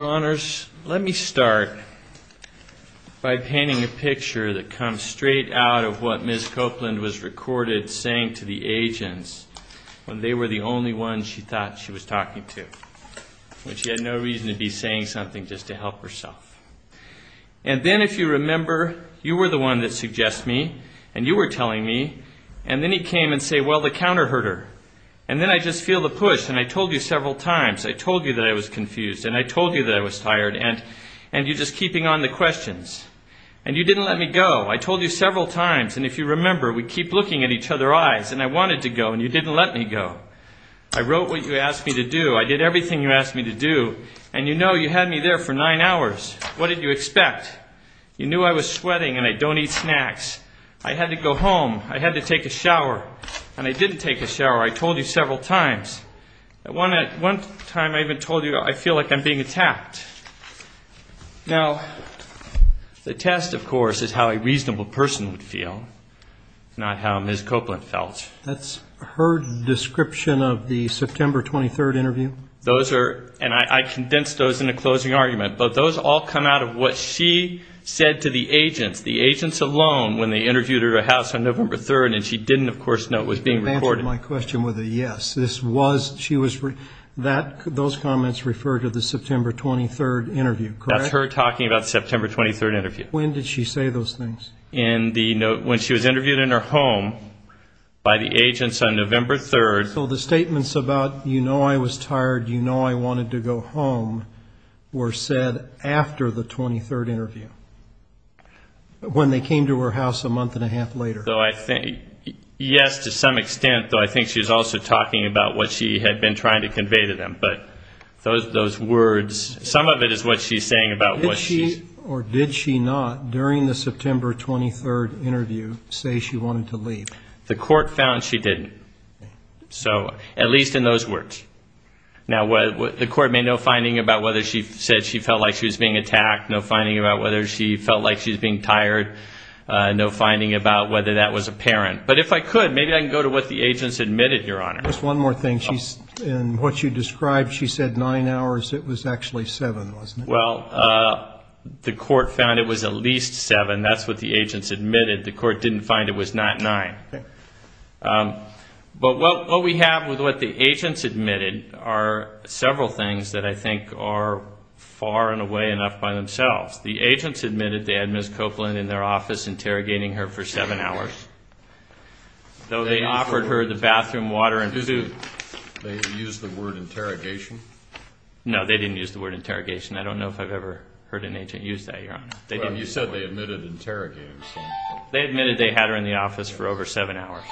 Let me start by painting a picture that comes straight out of what Ms. Copeland was recorded saying to the agents when they were the only ones she thought she was talking to, when she had no reason to be saying something just to help herself. And then if you remember, you were the one that suggests me, and you were telling me, and then he came and said, well, the counter-herder, and then I just feel the push, and I told you several times, I told you that I was confused, and I told you that I was tired, and you're just keeping on the questions, and you didn't let me go. What did you expect? You knew I was sweating, and I don't eat snacks. I had to go home. I had to take a shower, and I didn't take a shower. I told you several times. One time I even told you I feel like I'm being attacked. Now, the test, of course, is how a reasonable person would feel, not how Ms. Copeland felt. That's her description of the September 23rd interview? And I condensed those in a closing argument, but those all come out of what she said to the agents, the agents alone, when they interviewed her at her house on November 3rd, and she didn't, of course, know it was being recorded. You didn't answer my question with a yes. Those comments refer to the September 23rd interview, correct? That's her talking about the September 23rd interview. When did she say those things? When she was interviewed in her home by the agents on November 3rd. So the statements about, you know I was tired, you know I wanted to go home, were said after the 23rd interview, when they came to her house a month and a half later? Yes, to some extent, though I think she was also talking about what she had been trying to convey to them, but those words, some of it is what she's saying about what she's... Did she or did she not, during the September 23rd interview, say she wanted to leave? The court found she didn't. So, at least in those words. Now, the court made no finding about whether she said she felt like she was being attacked, no finding about whether she felt like she was being tired, no finding about whether that was apparent. But if I could, maybe I can go to what the agents admitted, Your Honor. Just one more thing. In what you described, she said nine hours. It was actually seven, wasn't it? Well, the court found it was at least seven. That's what the agents admitted. The court didn't find it was not nine. But what we have with what the agents admitted are several things that I think are far and away enough by themselves. The agents admitted they had Ms. Copeland in their office interrogating her for seven hours, though they offered her the bathroom water and food. They used the word interrogation? No, they didn't use the word interrogation. I don't know if I've ever heard an agent use that, Your Honor. Well, you said they admitted interrogating. They admitted they had her in the office for over seven hours,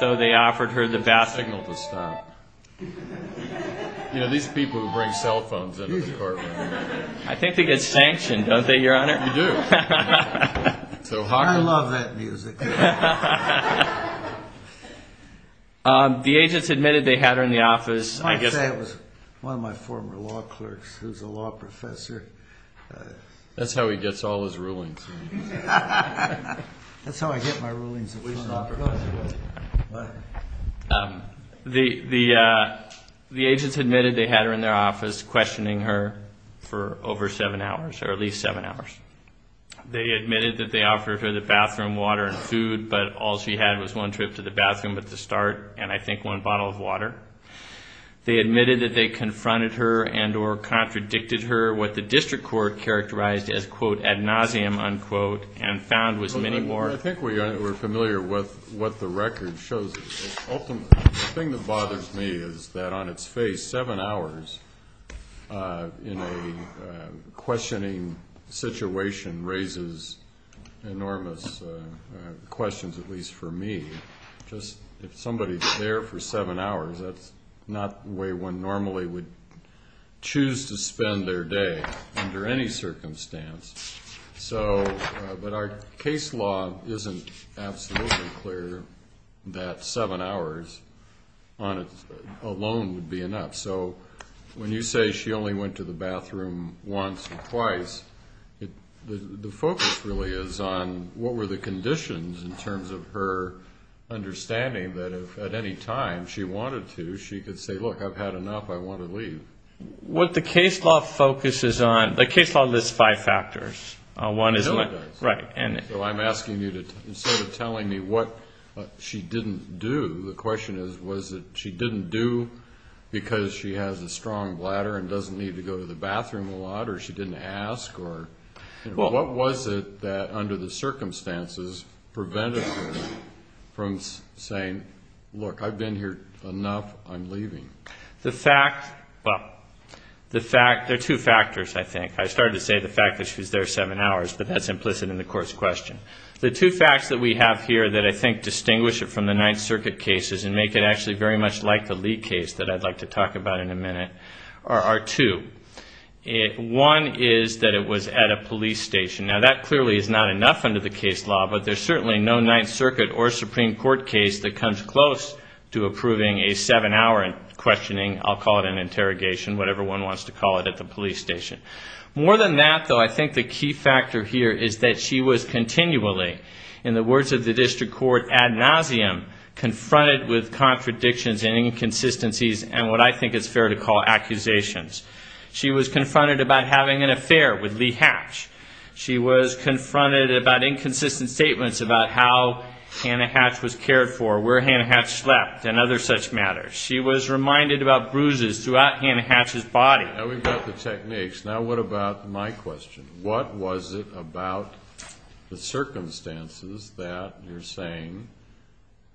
though they offered her the bathroom... Signal to stop. You know, these people who bring cell phones into the courtroom. I think they get sanctioned, don't they, Your Honor? You do. I love that music. The agents admitted they had her in the office. I guess that was one of my former law clerks who's a law professor. That's how he gets all his rulings. That's how I get my rulings. The agents admitted they had her in their office questioning her for over seven hours or at least seven hours. They admitted that they offered her the bathroom water and food, but all she had was one trip to the bathroom at the start and I think one bottle of water. They admitted that they confronted her and or contradicted her, what the district court characterized as, quote, ad nauseum, unquote, and found was many more... I think we're familiar with what the record shows. The thing that bothers me is that on its face, seven hours in a questioning situation raises enormous questions, at least for me. If somebody's there for seven hours, that's not the way one normally would choose to spend their day under any circumstance. But our case law isn't absolutely clear that seven hours alone would be enough. So when you say she only went to the bathroom once or twice, the focus really is on what were the conditions in terms of her understanding that if at any time she wanted to, she could say, look, I've had enough, I want to leave. What the case law focuses on, the case law lists five factors. So I'm asking you, instead of telling me what she didn't do, the question is, was it she didn't do because she has a strong bladder and doesn't need to go to the bathroom a lot or she didn't ask or what was it that under the circumstances prevented her from saying, look, I've been here enough, I'm leaving? The fact, well, the fact, there are two factors, I think. I started to say the fact that she was there seven hours, but that's implicit in the court's question. The two facts that we have here that I think distinguish it from the Ninth Circuit cases and make it actually very much like the Lee case that I'd like to talk about in a minute are two. One is that it was at a police station. Now, that clearly is not enough under the case law, but there's certainly no Ninth Circuit or Supreme Court case that comes close to approving a seven-hour questioning, I'll call it an interrogation, whatever one wants to call it, at the police station. More than that, though, I think the key factor here is that she was continually, in the words of the district court, ad nauseum, confronted with contradictions and inconsistencies and what I think is fair to call accusations. She was confronted about having an affair with Lee Hatch. She was confronted about inconsistent statements about how Hannah Hatch was cared for, where Hannah Hatch slept, and other such matters. She was reminded about bruises throughout Hannah Hatch's body. Now we've got the techniques. Now what about my question? What was it about the circumstances that you're saying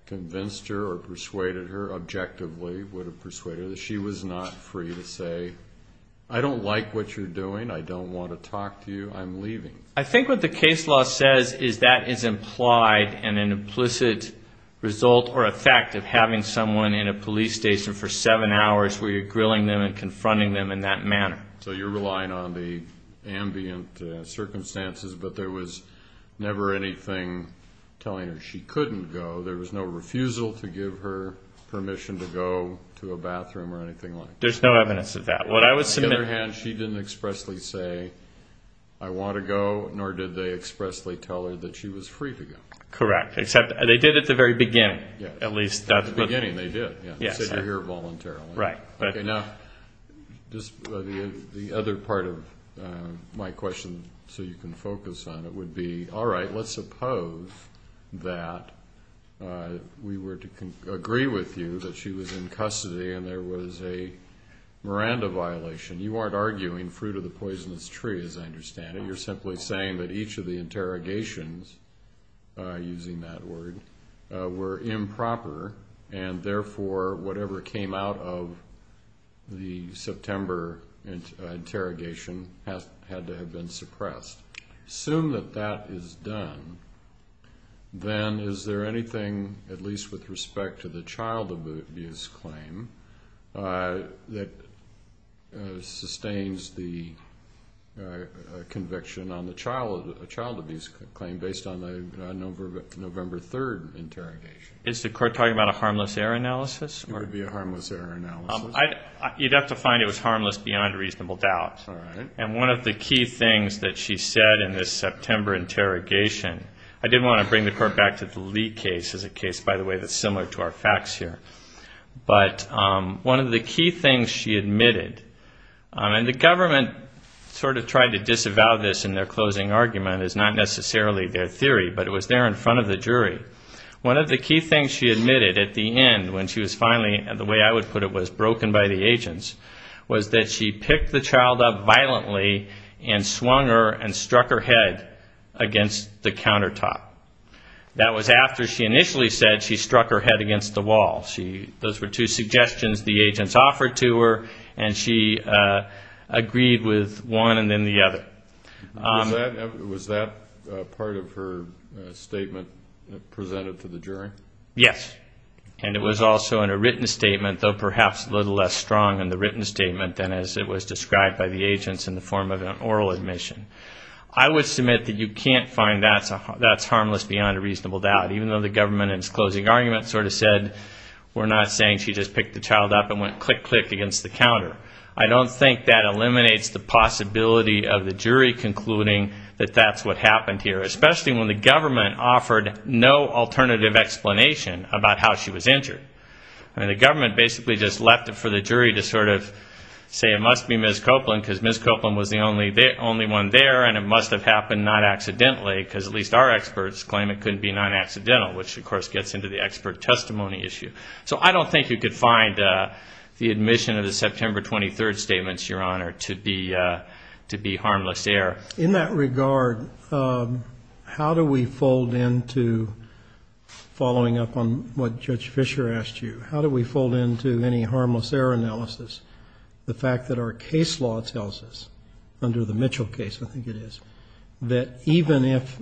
convinced her or persuaded her, objectively would have persuaded her, that she was not free to say, I don't like what you're doing, I don't want to talk to you, I'm leaving? I think what the case law says is that is implied in an implicit result or effect of having someone in a police station for seven hours where you're grilling them and confronting them in that manner. So you're relying on the ambient circumstances, but there was never anything telling her she couldn't go. There was no refusal to give her permission to go to a bathroom or anything like that. There's no evidence of that. On the other hand, she didn't expressly say, I want to go, nor did they expressly tell her that she was free to go. Correct. Except they did at the very beginning. The other part of my question, so you can focus on it, would be, all right, let's suppose that we were to agree with you that she was in custody and there was a Miranda violation. You aren't arguing fruit of the poisonous tree, as I understand it. And the reasons for that, if I'm using that word, were improper, and therefore whatever came out of the September interrogation had to have been suppressed. Assume that that is done, then is there anything, at least with respect to the child abuse claim, that sustains the conviction on the child abuse claim based on the number of years she was in custody? Is the court talking about a harmless error analysis? You'd have to find it was harmless beyond reasonable doubt. And one of the key things that she said in this September interrogation, I did want to bring the court back to the Lee case, by the way, that's similar to our facts here. But one of the key things she admitted, and the government sort of tried to disavow this in their closing argument, is not necessarily their theory. But it was there in front of the jury. One of the key things she admitted at the end, when she was finally, the way I would put it, was broken by the agents, was that she picked the child up violently and swung her and struck her head against the countertop. That was after she initially said she struck her head against the wall. Those were two suggestions the agents offered to her, and she agreed with one and then the other. Was that the same statement presented to the jury? Yes, and it was also in a written statement, though perhaps a little less strong in the written statement than as it was described by the agents in the form of an oral admission. I would submit that you can't find that's harmless beyond a reasonable doubt, even though the government in its closing argument sort of said, we're not saying she just picked the child up and went click, click, against the counter. I don't think that eliminates the possibility of the jury concluding that that's what happened here, especially when the government offered no alternative explanation about how she was injured. The government basically just left it for the jury to sort of say it must be Ms. Copeland, because Ms. Copeland was the only one there and it must have happened not accidentally, because at least our experts claim it couldn't be non-accidental, which of course gets into the expert testimony issue. So I don't think you could find the admission of the September 23rd statements, Your Honor, to be harmless error. In that regard, how do we fold into, following up on what Judge Fischer asked you, how do we fold into any harmless error analysis the fact that our case law tells us, under the Mitchell case, I think it is, that even if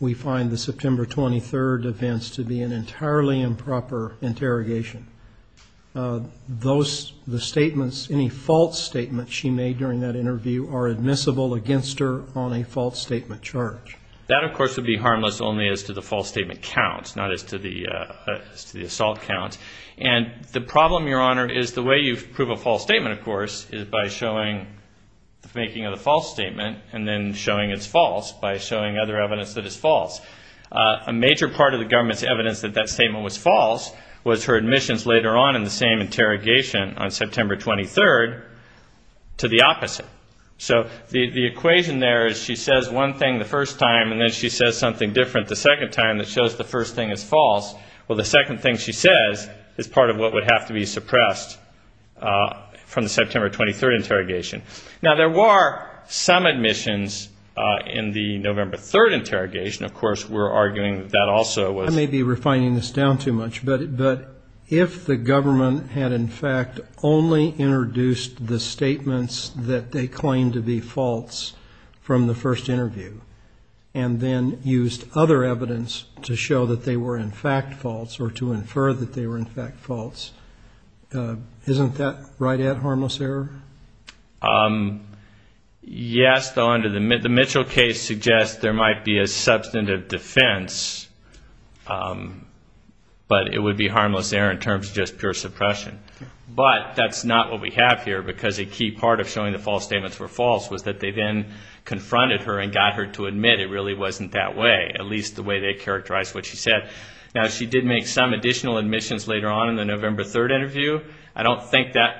we find the September 23rd events to be an entirely improper interpretation of the facts, how do we do that? That, of course, would be harmless only as to the false statement count, not as to the assault count. And the problem, Your Honor, is the way you prove a false statement, of course, is by showing the faking of the false statement and then showing it's false by showing other evidence that it's false. A major part of the government's evidence that that statement was false was her admissions later on in the same interrogation on September 23rd to the opposite. So the equation there is she says one thing the first time and then she says something different the second time that shows the first thing is false. Well, the second thing she says is part of what would have to be suppressed from the September 23rd interrogation. Now, there were some admissions in the November 3rd interrogation, of course, we're arguing that also was... I may be refining this down too much, but if the government had in fact only introduced the statements that they claimed to be false from the first interview and then used other evidence to show that they were in fact false or to infer that they were in fact false, isn't that right at harmless error? Yes, the Mitchell case suggests there might be a substantive defense, but it would be harmless error in terms of just pure suppression. But that's not what we have here because a key part of showing the false statements were false was that they then confronted her and got her to admit it really wasn't that way, at least the way they characterized what she said. Now, she did make some additional admissions later on in the November 3rd interview.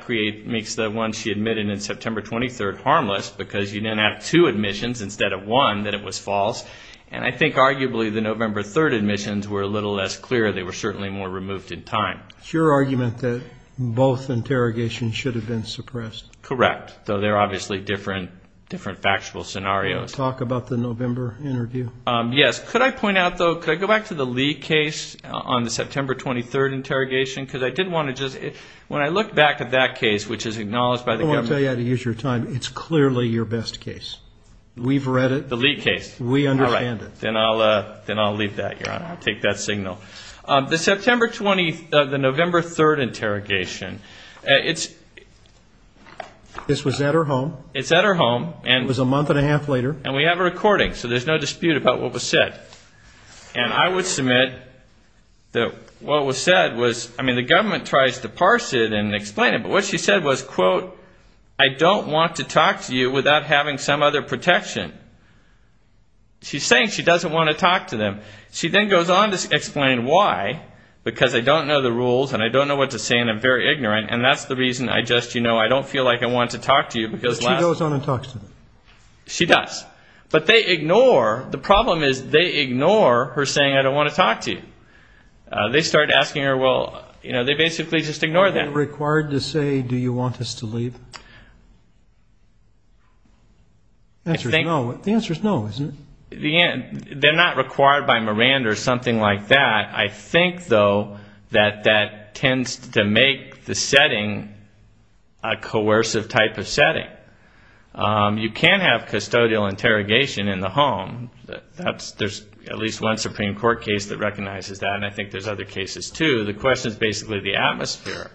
She did make the September 23rd harmless because you didn't have two admissions instead of one that it was false. And I think arguably the November 3rd admissions were a little less clear. They were certainly more removed in time. It's your argument that both interrogations should have been suppressed. Correct, though they're obviously different factual scenarios. Talk about the November interview. Yes, could I point out, though, could I go back to the Lee case on the September 23rd interrogation? Because I did want to just when I look back at that case, which is acknowledged by the government. I'll tell you how to use your time. It's clearly your best case. We've read it. The Lee case. We understand it. Then I'll leave that, Your Honor. I'll take that signal. The September 23rd, the November 3rd interrogation, it's... This was at her home. It's at her home. It was a month and a half later. And we have a recording, so there's no dispute about what was said. And I would submit that what was said was, I mean, the government tries to parse it and explain it. But what she said was, quote, I don't want to talk to you without having some other protection. She's saying she doesn't want to talk to them. She then goes on to explain why, because I don't know the rules and I don't know what to say and I'm very ignorant. And that's the reason I just, you know, I don't feel like I want to talk to you. But she goes on and talks to them. She does. But they ignore, the problem is they ignore her saying, I don't want to talk to you. They start asking her, well, you know, they basically just ignore them. Are you required to say, do you want us to leave? The answer is no, isn't it? They're not required by Miranda or something like that. I think, though, that that tends to make the setting a coercive type of setting. You can have custodial interrogation in the home. There's at least one Supreme Court case that recognizes that, and I think there's other cases, too. The question is basically the atmosphere.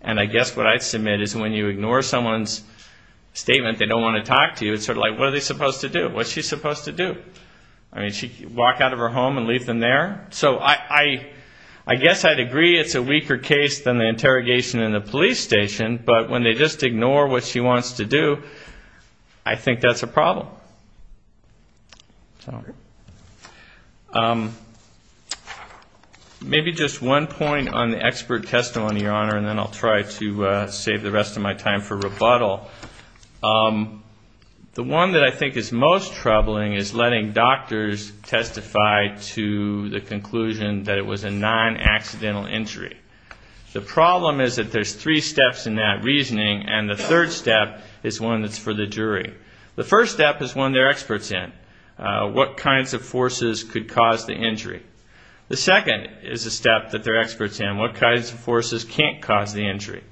And I guess what I'd submit is when you ignore someone's statement, they don't want to talk to you, it's sort of like, what are they supposed to do? What's she supposed to do? I mean, walk out of her home and leave them there? So I guess I'd agree it's a weaker case than the interrogation in the police station. But when they just ignore what she wants to do, I think that's a problem. Maybe just one point on the expert testimony, Your Honor, and then I'll try to save the rest of my time for rebuttal. The one that I think is most troubling is letting doctors testify to the conclusion that it was a non-accidental injury. The problem is that there's three steps in that reasoning, and the third step is one that's for the jury. The first step is one they're experts in, what kinds of forces could cause the injury. The second is a step that they're experts in, what kinds of forces can't cause the injury.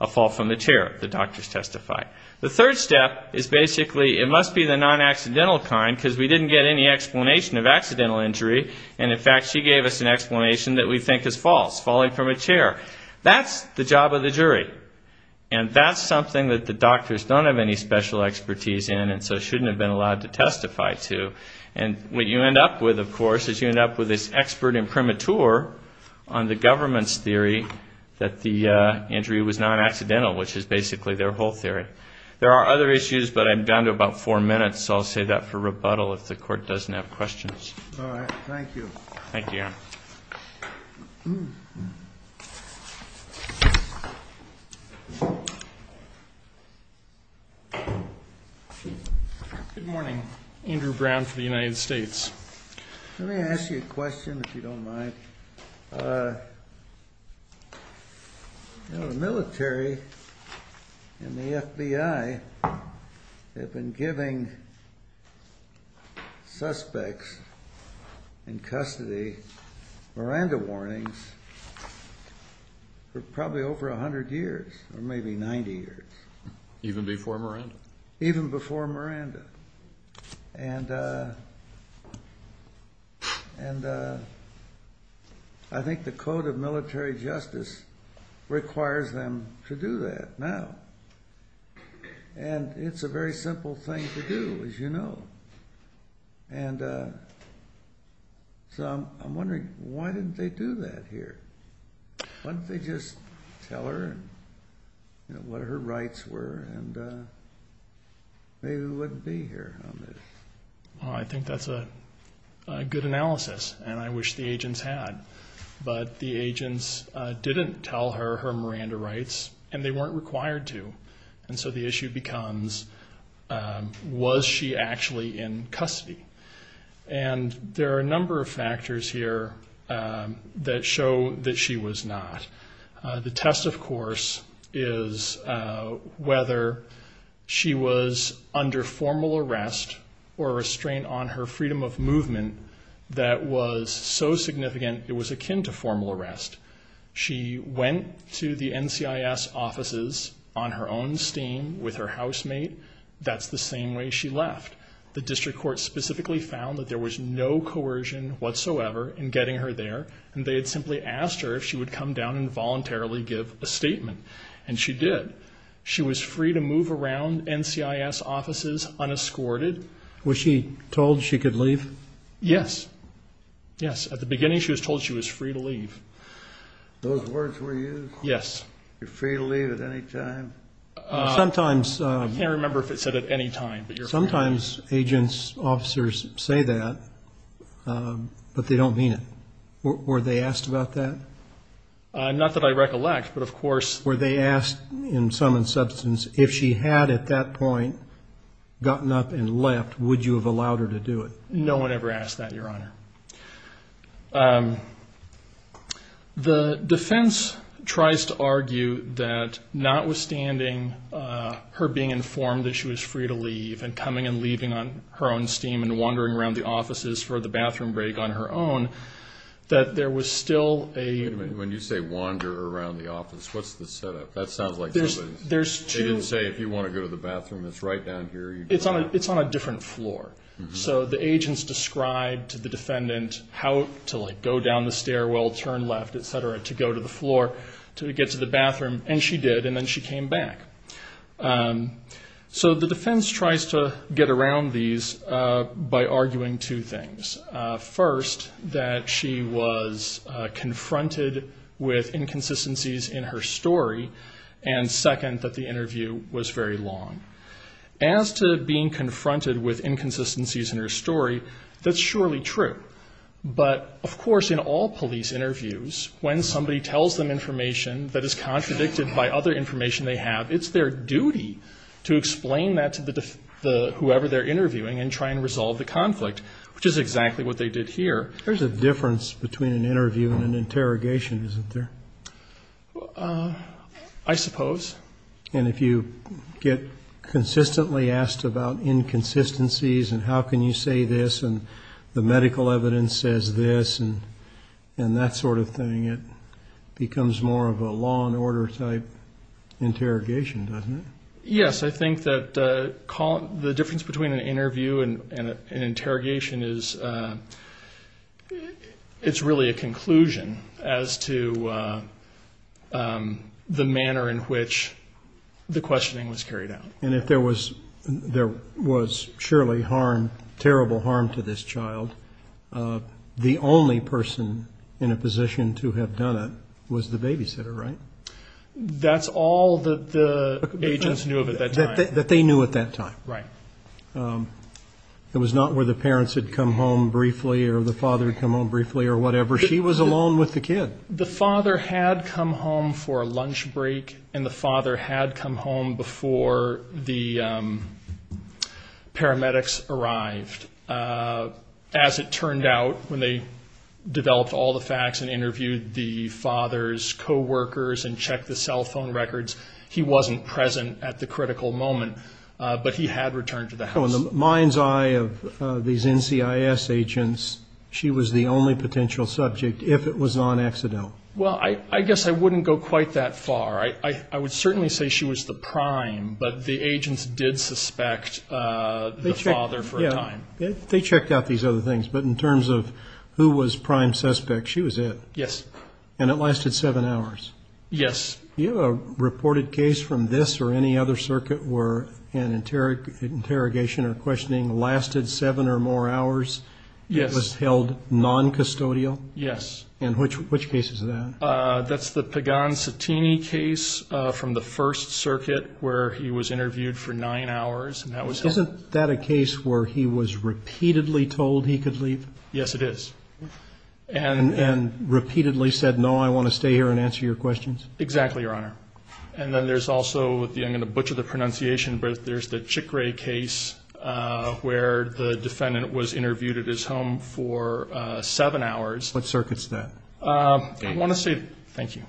A fall from the chair, the doctors testify. The third step is basically it must be the non-accidental kind because we didn't get any explanation of accidental injury, and in fact she gave us an explanation that we think is false, falling from a chair. That's the job of the jury, and that's something that the doctors don't have any special expertise in and so shouldn't have been allowed to testify to. And what you end up with, of course, is you end up with this expert imprimatur on the government's theory that the injury was non-accidental, which is basically their whole theory. There are other issues, but I'm down to about four minutes, so I'll save that for rebuttal if the court doesn't have questions. All right. Thank you. Thank you. Good morning. Andrew Brown for the United States. Let me ask you a question, if you don't mind. The military and the FBI have been giving suspects in custody Miranda warnings for probably over 100 years or maybe 90 years. Even before Miranda? Even before Miranda. And I think the code of military justice requires them to do that now, and it's a very simple thing to do, as you know. And so I'm wondering, why didn't they do that here? Why didn't they just tell her what her rights were and maybe we wouldn't be here on this? I think that's a good analysis, and I wish the agents had. But the agents didn't tell her her Miranda rights, and they weren't required to. And so the issue becomes, was she actually in custody? And there are a number of factors here that show that she was not. The test, of course, is whether she was under formal arrest or a restraint on her freedom of movement that was so significant it was akin to formal arrest. She went to the NCIS offices on her own steam with her housemate. That's the same way she left. The district court specifically found that there was no coercion whatsoever in getting her there, and they had simply asked her if she would come down and voluntarily give a statement, and she did. She was free to move around NCIS offices unescorted. Was she told she could leave? Yes. Yes, at the beginning she was told she was free to leave. Those words were used? Yes. You're free to leave at any time? Sometimes. I can't remember if it said at any time. Sometimes agents, officers say that, but they don't mean it. Were they asked about that? Not that I recollect, but of course. Were they asked in sum and substance if she had at that point gotten up and left, would you have allowed her to do it? No one ever asked that, Your Honor. The defense tries to argue that notwithstanding her being informed that she was free to leave and coming and leaving on her own steam and wandering around the offices for the bathroom break on her own, that there was still a ---- Wait a minute. When you say wander around the office, what's the setup? That sounds like something they didn't say if you want to go to the bathroom. It's right down here. It's on a different floor. So the agents described to the defendant how to go down the stairwell, turn left, et cetera, to go to the floor to get to the bathroom, and she did, and then she came back. So the defense tries to get around these by arguing two things. First, that she was confronted with inconsistencies in her story, and second, that the interview was very long. As to being confronted with inconsistencies in her story, that's surely true. But, of course, in all police interviews, when somebody tells them information that is contradicted by other information they have, it's their duty to explain that to whoever they're interviewing and try and resolve the conflict, which is exactly what they did here. There's a difference between an interview and an interrogation, isn't there? I suppose. And if you get consistently asked about inconsistencies and how can you say this and the medical evidence says this and that sort of thing, it becomes more of a law and order type interrogation, doesn't it? Yes. I think that the difference between an interview and an interrogation is it's really a conclusion as to the manner in which the questioning was carried out. And if there was surely harm, terrible harm to this child, the only person in a position to have done it was the babysitter, right? That's all that the agents knew of at that time. That they knew at that time. Right. It was not where the parents had come home briefly or the father had come home briefly or whatever. She was alone with the kid. The father had come home for a lunch break and the father had come home before the paramedics arrived. As it turned out, when they developed all the facts and interviewed the father's co-workers and checked the cell phone records, he wasn't present at the critical moment, but he had returned to the house. In the mind's eye of these NCIS agents, she was the only potential subject if it was on accident. Well, I guess I wouldn't go quite that far. I would certainly say she was the prime, but the agents did suspect the father for a time. They checked out these other things, but in terms of who was prime suspect, she was it. Yes. And it lasted seven hours. Yes. Do you have a reported case from this or any other circuit where an interrogation or questioning lasted seven or more hours? Yes. It was held noncustodial? Yes. And which case is that? That's the Pagan-Settini case from the First Circuit where he was interviewed for nine hours. Isn't that a case where he was repeatedly told he could leave? Yes, it is. And repeatedly said, no, I want to stay here and answer your questions? Exactly, Your Honor. And then there's also, I'm going to butcher the pronunciation, but there's the Chikre case where the defendant was interviewed at his home for seven hours. What circuit is that? I want to say, thank you.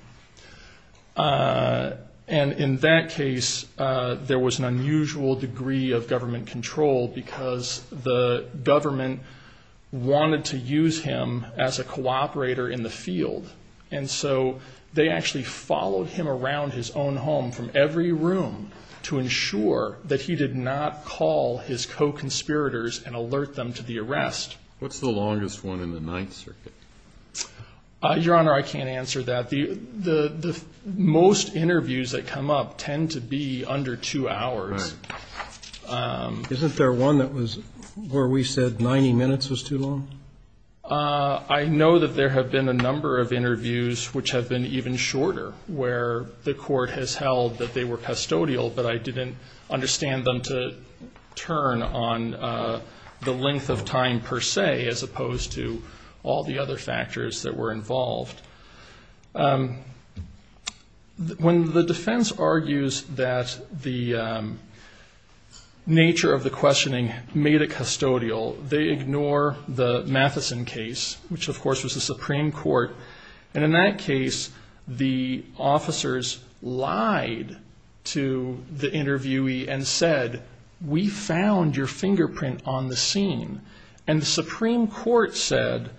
And in that case, there was an unusual degree of government control because the government wanted to use him as a cooperator in the field. And so they actually followed him around his own home from every room to ensure that he did not call his co-conspirators and alert them to the arrest. What's the longest one in the Ninth Circuit? Your Honor, I can't answer that. Most interviews that come up tend to be under two hours. Right. Isn't there one where we said 90 minutes was too long? I know that there have been a number of interviews which have been even shorter, where the court has held that they were custodial, but I didn't understand them to turn on the length of time per se as opposed to all the other factors that were involved. When the defense argues that the nature of the questioning made it custodial, they ignore the Matheson case, which, of course, was the Supreme Court. And in that case, the officers lied to the interviewee and said, we found your fingerprint on the scene. And the Supreme Court said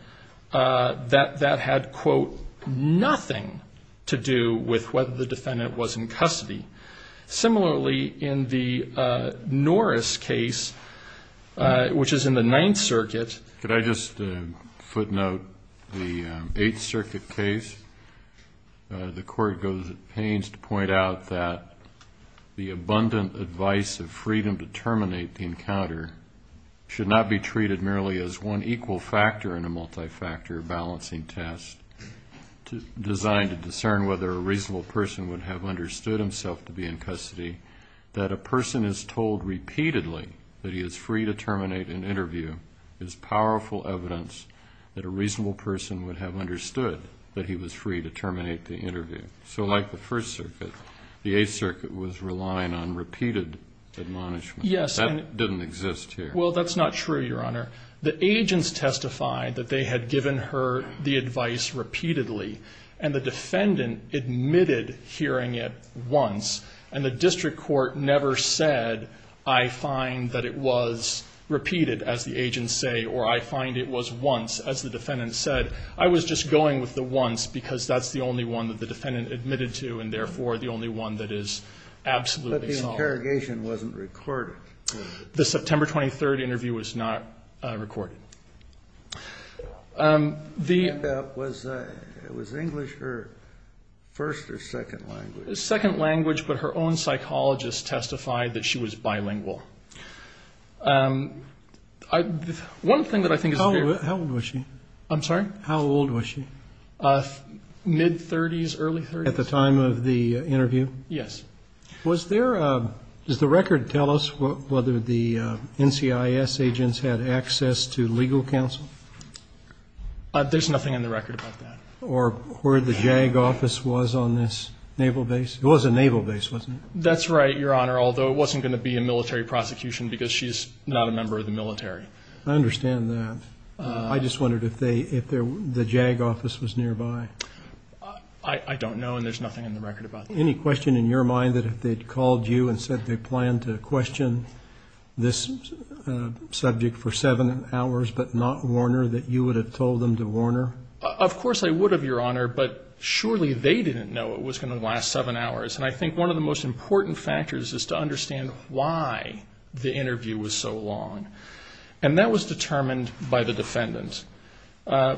that that had, quote, nothing to do with whether the defendant was in custody. Similarly, in the Norris case, which is in the Ninth Circuit. Could I just footnote the Eighth Circuit case? The court goes to pains to point out that the abundant advice of freedom to terminate the encounter should not be treated merely as one equal factor in a multi-factor balancing test designed to discern whether a reasonable person would have understood himself to be in custody, that a person is told repeatedly that he is free to terminate an interview is powerful evidence that a reasonable person would have understood that he was free to terminate the interview. So like the First Circuit, the Eighth Circuit was relying on repeated admonishment. That didn't exist here. Well, that's not true, Your Honor. The agents testified that they had given her the advice repeatedly, and the defendant admitted hearing it once, and the district court never said, I find that it was repeated, as the agents say, or I find it was once. As the defendant said, I was just going with the once because that's the only one that the defendant admitted to and therefore the only one that is absolutely solid. But the interrogation wasn't recorded. The September 23rd interview was not recorded. Was English her first or second language? Second language, but her own psychologist testified that she was bilingual. One thing that I think is clear. How old was she? I'm sorry? How old was she? Mid-30s, early 30s. At the time of the interview? Yes. Was there a – does the record tell us whether the NCIS agents had access to legal counsel? There's nothing in the record about that. Or where the JAG office was on this naval base? It was a naval base, wasn't it? That's right, Your Honor, although it wasn't going to be a military prosecution because she's not a member of the military. I understand that. I just wondered if the JAG office was nearby. I don't know, and there's nothing in the record about that. Any question in your mind that if they'd called you and said they planned to question this subject for seven hours but not Warner, that you would have told them to Warner? Of course I would have, Your Honor, but surely they didn't know it was going to last seven hours. And I think one of the most important factors is to understand why the interview was so long. And that was determined by the defendant.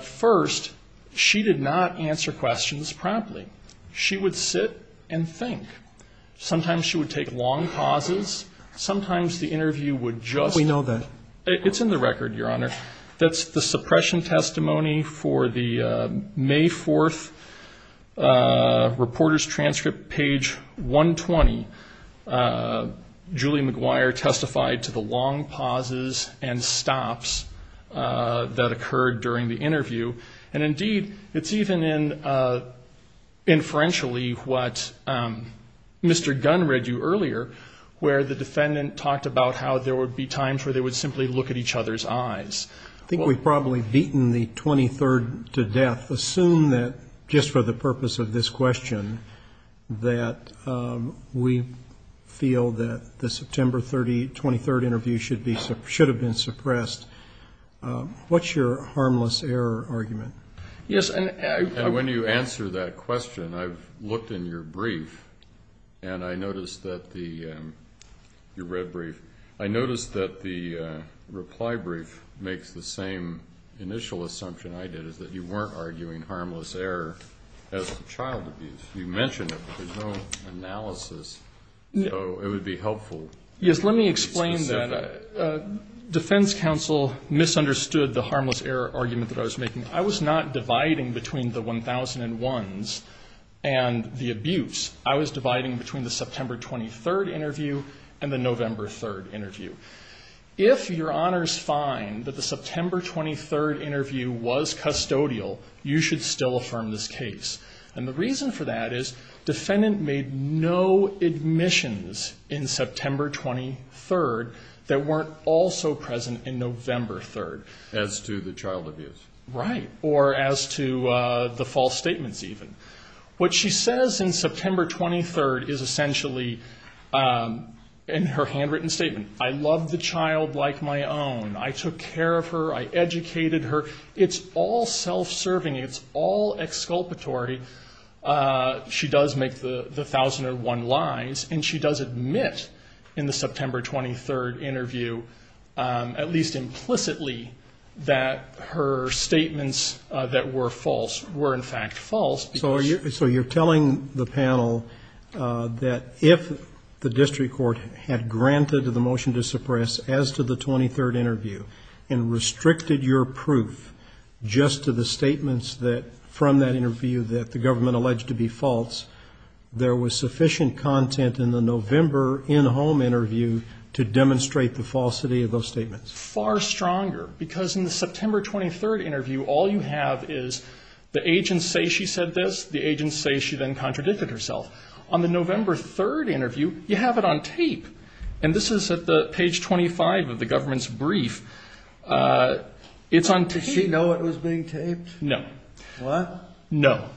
First, she did not answer questions promptly. She would sit and think. Sometimes she would take long pauses. Sometimes the interview would just go. We know that. It's in the record, Your Honor. That's the suppression testimony for the May 4th reporter's transcript, page 120. Julie McGuire testified to the long pauses and stops that occurred during the interview. And, indeed, it's even in, inferentially, what Mr. Gunn read you earlier, where the defendant talked about how there would be times where they would simply look at each other's eyes. I think we've probably beaten the 23rd to death. Assume that just for the purpose of this question, that we feel that the September 23rd interview should have been suppressed. What's your harmless error argument? And when you answer that question, I've looked in your brief, and I noticed that the red brief, I noticed that the reply brief makes the same initial assumption I did, is that you weren't arguing harmless error as to child abuse. You mentioned it, but there's no analysis. So it would be helpful to be specific. Defense counsel misunderstood the harmless error argument that I was making. I was not dividing between the 1001s and the abuse. I was dividing between the September 23rd interview and the November 3rd interview. If Your Honors find that the September 23rd interview was custodial, you should still affirm this case. And the reason for that is defendant made no admissions in September 23rd that weren't also present in November 3rd. As to the child abuse. Right. Or as to the false statements, even. What she says in September 23rd is essentially in her handwritten statement, I loved the child like my own. I took care of her. I educated her. It's all self-serving. It's all exculpatory. She does make the 1001 lies. And she does admit in the September 23rd interview, at least implicitly, that her statements that were false were, in fact, false. So you're telling the panel that if the district court had granted the motion to suppress as to the 23rd interview and restricted your proof just to the statements from that interview that the government alleged to be false, there was sufficient content in the November in-home interview to demonstrate the falsity of those statements? Far stronger. Because in the September 23rd interview, all you have is the agents say she said this, the agents say she then contradicted herself. On the November 3rd interview, you have it on tape. And this is at page 25 of the government's brief. It's on tape. Did she know it was being taped? No. What? No.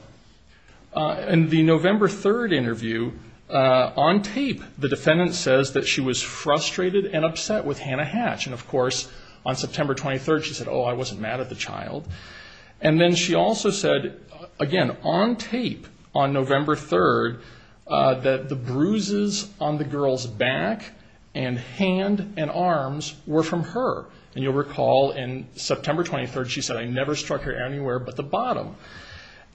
In the November 3rd interview, on tape, the defendant says that she was frustrated and upset with Hannah Hatch. And, of course, on September 23rd she said, oh, I wasn't mad at the child. And then she also said, again, on tape on November 3rd, that the bruises on the girl's back and hand and arms were from her. And you'll recall in September 23rd she said, I never struck her anywhere but the bottom.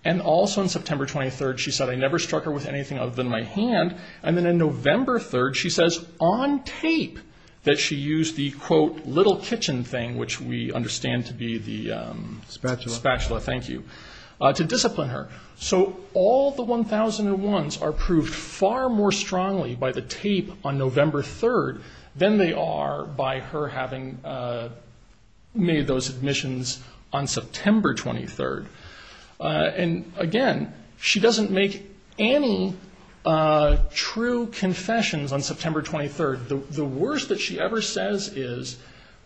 And also in September 23rd she said, I never struck her with anything other than my hand. And then on November 3rd she says on tape that she used the, quote, little kitchen thing, which we understand to be the spatula. Thank you. To discipline her. So all the 1001s are proved far more strongly by the tape on November 3rd than they are by her having made those admissions on September 23rd. And, again, she doesn't make any true confessions on September 23rd. The worst that she ever says is,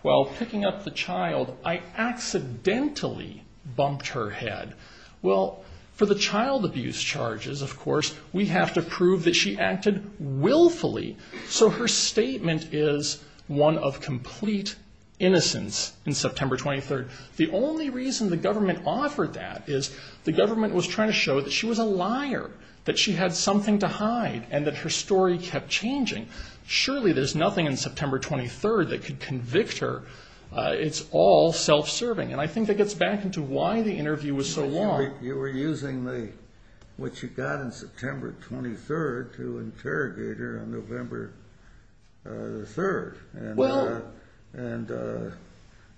well, picking up the child, I accidentally bumped her head. Well, for the child abuse charges, of course, we have to prove that she acted willfully. So her statement is one of complete innocence in September 23rd. The only reason the government offered that is the government was trying to show that she was a liar, that she had something to hide, and that her story kept changing. Surely there's nothing in September 23rd that could convict her. It's all self-serving. And I think that gets back into why the interview was so long. You were using what you got in September 23rd to interrogate her on November 3rd. And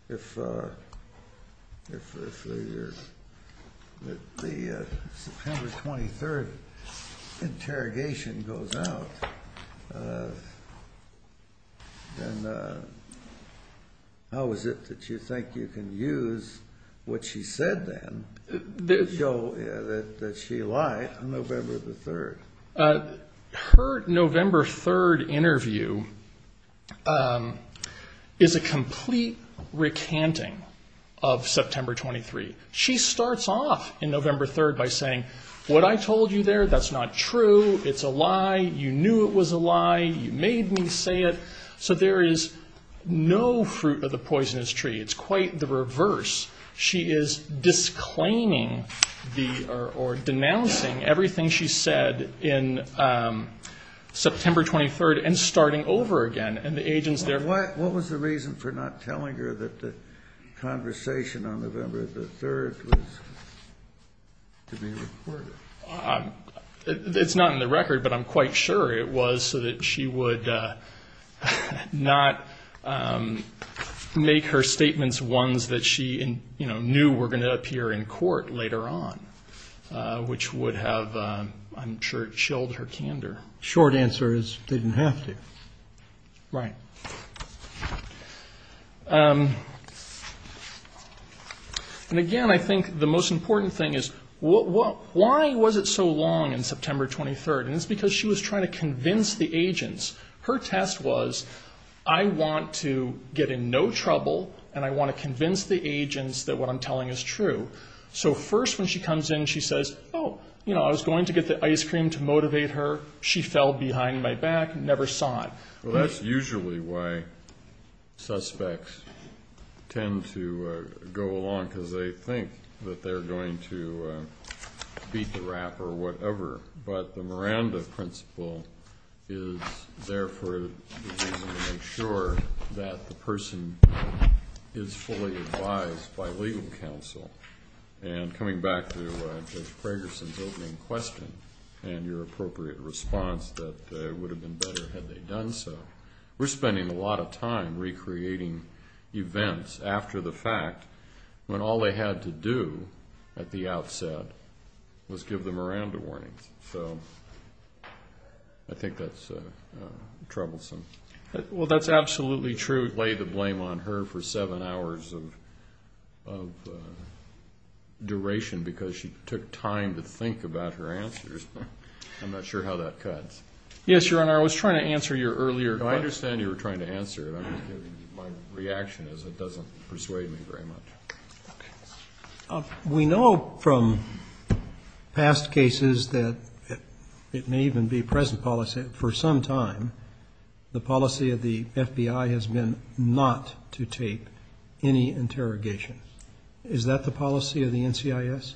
if the September 23rd interrogation goes out, then how is it that you think you can use what she said then to show that she lied on November 3rd? Her November 3rd interview is a complete recanting of September 23rd. She starts off in November 3rd by saying, what I told you there, that's not true. It's a lie. You knew it was a lie. You made me say it. So there is no fruit of the poisonous tree. It's quite the reverse. She is disclaiming or denouncing everything she said in September 23rd and starting over again. And the agents there ---- What was the reason for not telling her that the conversation on November 3rd was to be recorded? It's not in the record, but I'm quite sure it was so that she would not make her statements ones that she knew were going to appear in court later on, which would have, I'm sure, chilled her candor. Short answer is, didn't have to. Right. And, again, I think the most important thing is, why was it so long in September 23rd? And it's because she was trying to convince the agents. Her test was, I want to get in no trouble and I want to convince the agents that what I'm telling is true. So first when she comes in, she says, oh, you know, I was going to get the ice cream to motivate her. She fell behind my back and never saw it. Well, that's usually why suspects tend to go along, because they think that they're going to beat the rap or whatever. But the Miranda principle is there for a reason to make sure that the person is fully advised by legal counsel. And coming back to Judge Pragerson's opening question and your appropriate response that it would have been better had they done so, we're spending a lot of time recreating events after the fact when all they had to do at the outset was give the Miranda warnings. So I think that's troublesome. Well, that's absolutely true. It laid the blame on her for seven hours of duration because she took time to think about her answers. I'm not sure how that cuts. Yes, Your Honor, I was trying to answer your earlier question. I understand you were trying to answer it. My reaction is it doesn't persuade me very much. We know from past cases that it may even be present policy for some time the policy of the FBI has been not to take any interrogation. Is that the policy of the NCIS?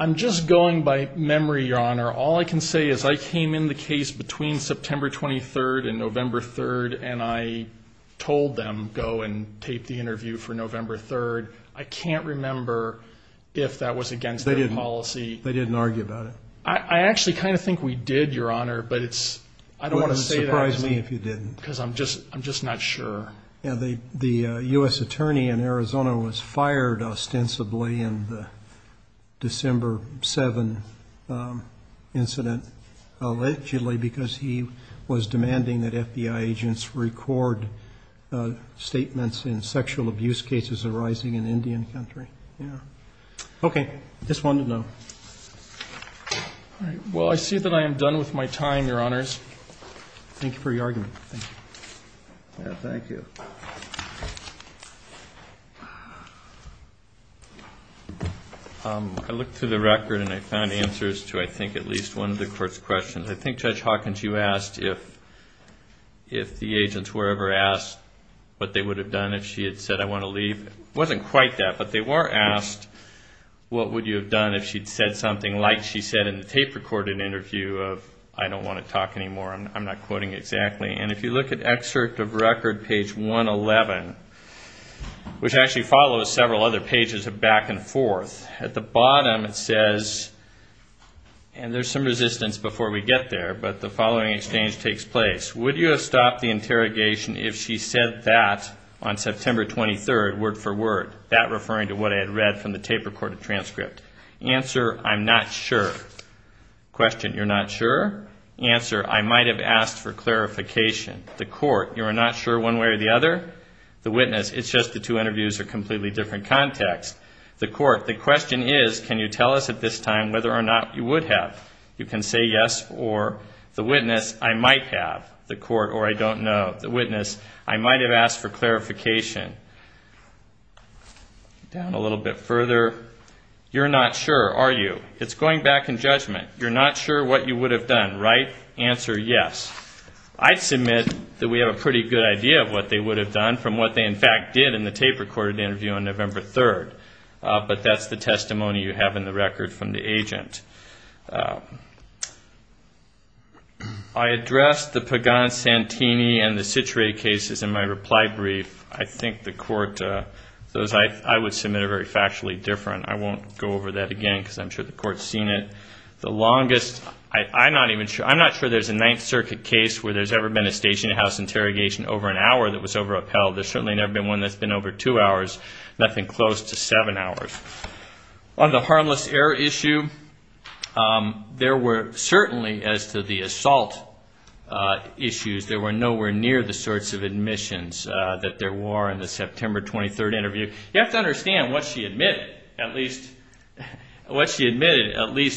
I'm just going by memory, Your Honor. All I can say is I came in the case between September 23rd and November 3rd, and I told them go and tape the interview for November 3rd. I can't remember if that was against their policy. They didn't argue about it? I actually kind of think we did, Your Honor, but I don't want to say that. It wouldn't surprise me if you didn't. Because I'm just not sure. The U.S. attorney in Arizona was fired ostensibly in the December 7th incident, allegedly because he was demanding that FBI agents record statements in sexual abuse cases arising in Indian country. Okay, just wanted to know. Well, I see that I am done with my time, Your Honors. Thank you for your argument. Thank you. I looked through the record and I found answers to, I think, at least one of the court's questions. I think, Judge Hawkins, you asked if the agents were ever asked what they would have done if she had said, I want to leave. It wasn't quite that, but they were asked what would you have done if she had said something like she said in the tape recorded interview of, I don't want to talk anymore. I'm not quoting exactly. And if you look at excerpt of record, page 111, which actually follows several other pages of back and forth, at the bottom it says, and there's some resistance before we get there, but the following exchange takes place. Would you have stopped the interrogation if she said that on September 23rd, word for word, that referring to what I had read from the tape recorded transcript? Answer, I'm not sure. Question, you're not sure? Answer, I might have asked for clarification. The court, you are not sure one way or the other? The witness, it's just the two interviews are completely different context. The court, the question is, can you tell us at this time whether or not you would have? You can say yes or the witness, I might have. The court, or I don't know. The witness, I might have asked for clarification. Down a little bit further, you're not sure, are you? It's going back in judgment. You're not sure what you would have done, right? Answer, yes. I submit that we have a pretty good idea of what they would have done from what they, in fact, did in the tape recorded interview on November 3rd. But that's the testimony you have in the record from the agent. I addressed the Pagan-Santini and the Citre cases in my reply brief. I think the court, those I would submit are very factually different. I won't go over that again because I'm sure the court's seen it. The longest, I'm not even sure. I'm not sure there's a Ninth Circuit case where there's ever been a station-to-house interrogation over an hour that was over-upheld. There's certainly never been one that's been over two hours, nothing close to seven hours. On the harmless error issue, there were certainly, as to the assault issues, there were nowhere near the sorts of admissions that there were in the September 23rd interview. You have to understand what she admitted, at least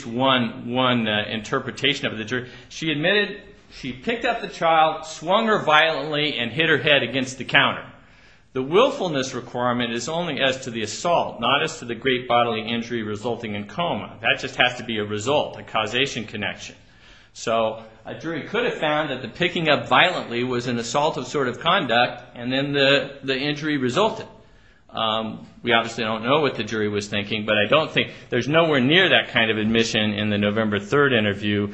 one interpretation of the jury. She admitted she picked up the child, swung her violently, and hit her head against the counter. The willfulness requirement is only as to the assault, not as to the great bodily injury resulting in coma. That just has to be a result, a causation connection. So a jury could have found that the picking up violently was an assault of sort of conduct and then the injury resulted. We obviously don't know what the jury was thinking, but I don't think there's nowhere near that kind of admission in the November 3rd interview.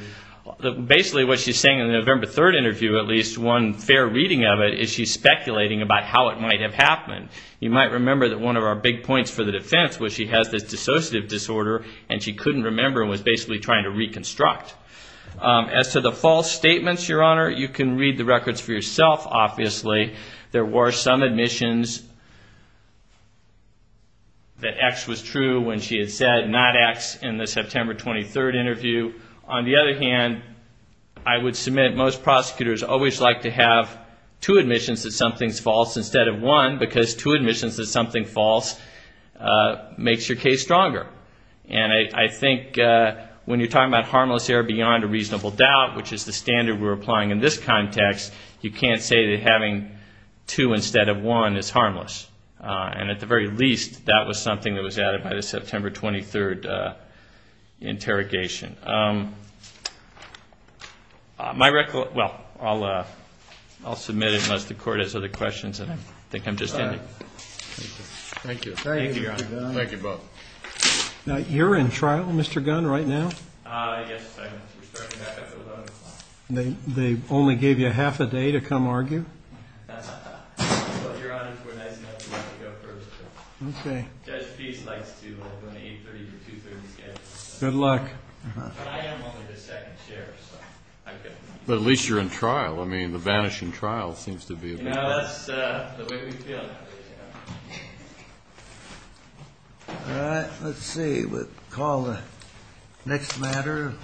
Basically what she's saying in the November 3rd interview, at least one fair reading of it, is she's speculating about how it might have happened. You might remember that one of our big points for the defense was she has this dissociative disorder and she couldn't remember and was basically trying to reconstruct. As to the false statements, Your Honor, you can read the records for yourself, obviously. There were some admissions that X was true when she had said not X in the September 23rd interview. On the other hand, I would submit most prosecutors always like to have two admissions that something's false instead of one because two admissions that something's false makes your case stronger. And I think when you're talking about harmless error beyond a reasonable doubt, which is the standard we're applying in this context, you can't say that having two instead of one is harmless. And at the very least, that was something that was added by the September 23rd interrogation. My recollection, well, I'll submit it unless the Court has other questions. I think I'm just ending. Thank you. Thank you, Your Honor. Thank you both. Now, you're in trial, Mr. Gunn, right now? Yes, I am. We're starting back up at 11 o'clock. They only gave you half a day to come argue? Well, Your Honor, if we're nice enough, we'd like to go first. Okay. Judge Pease likes to open at 8.30 for 2.30 scheduled. Good luck. But I am only the second sheriff, so I can't. But at least you're in trial. I mean, the vanishing trial seems to be a bit… You know, that's the way we feel. All right. Let's see. We'll call the next matter.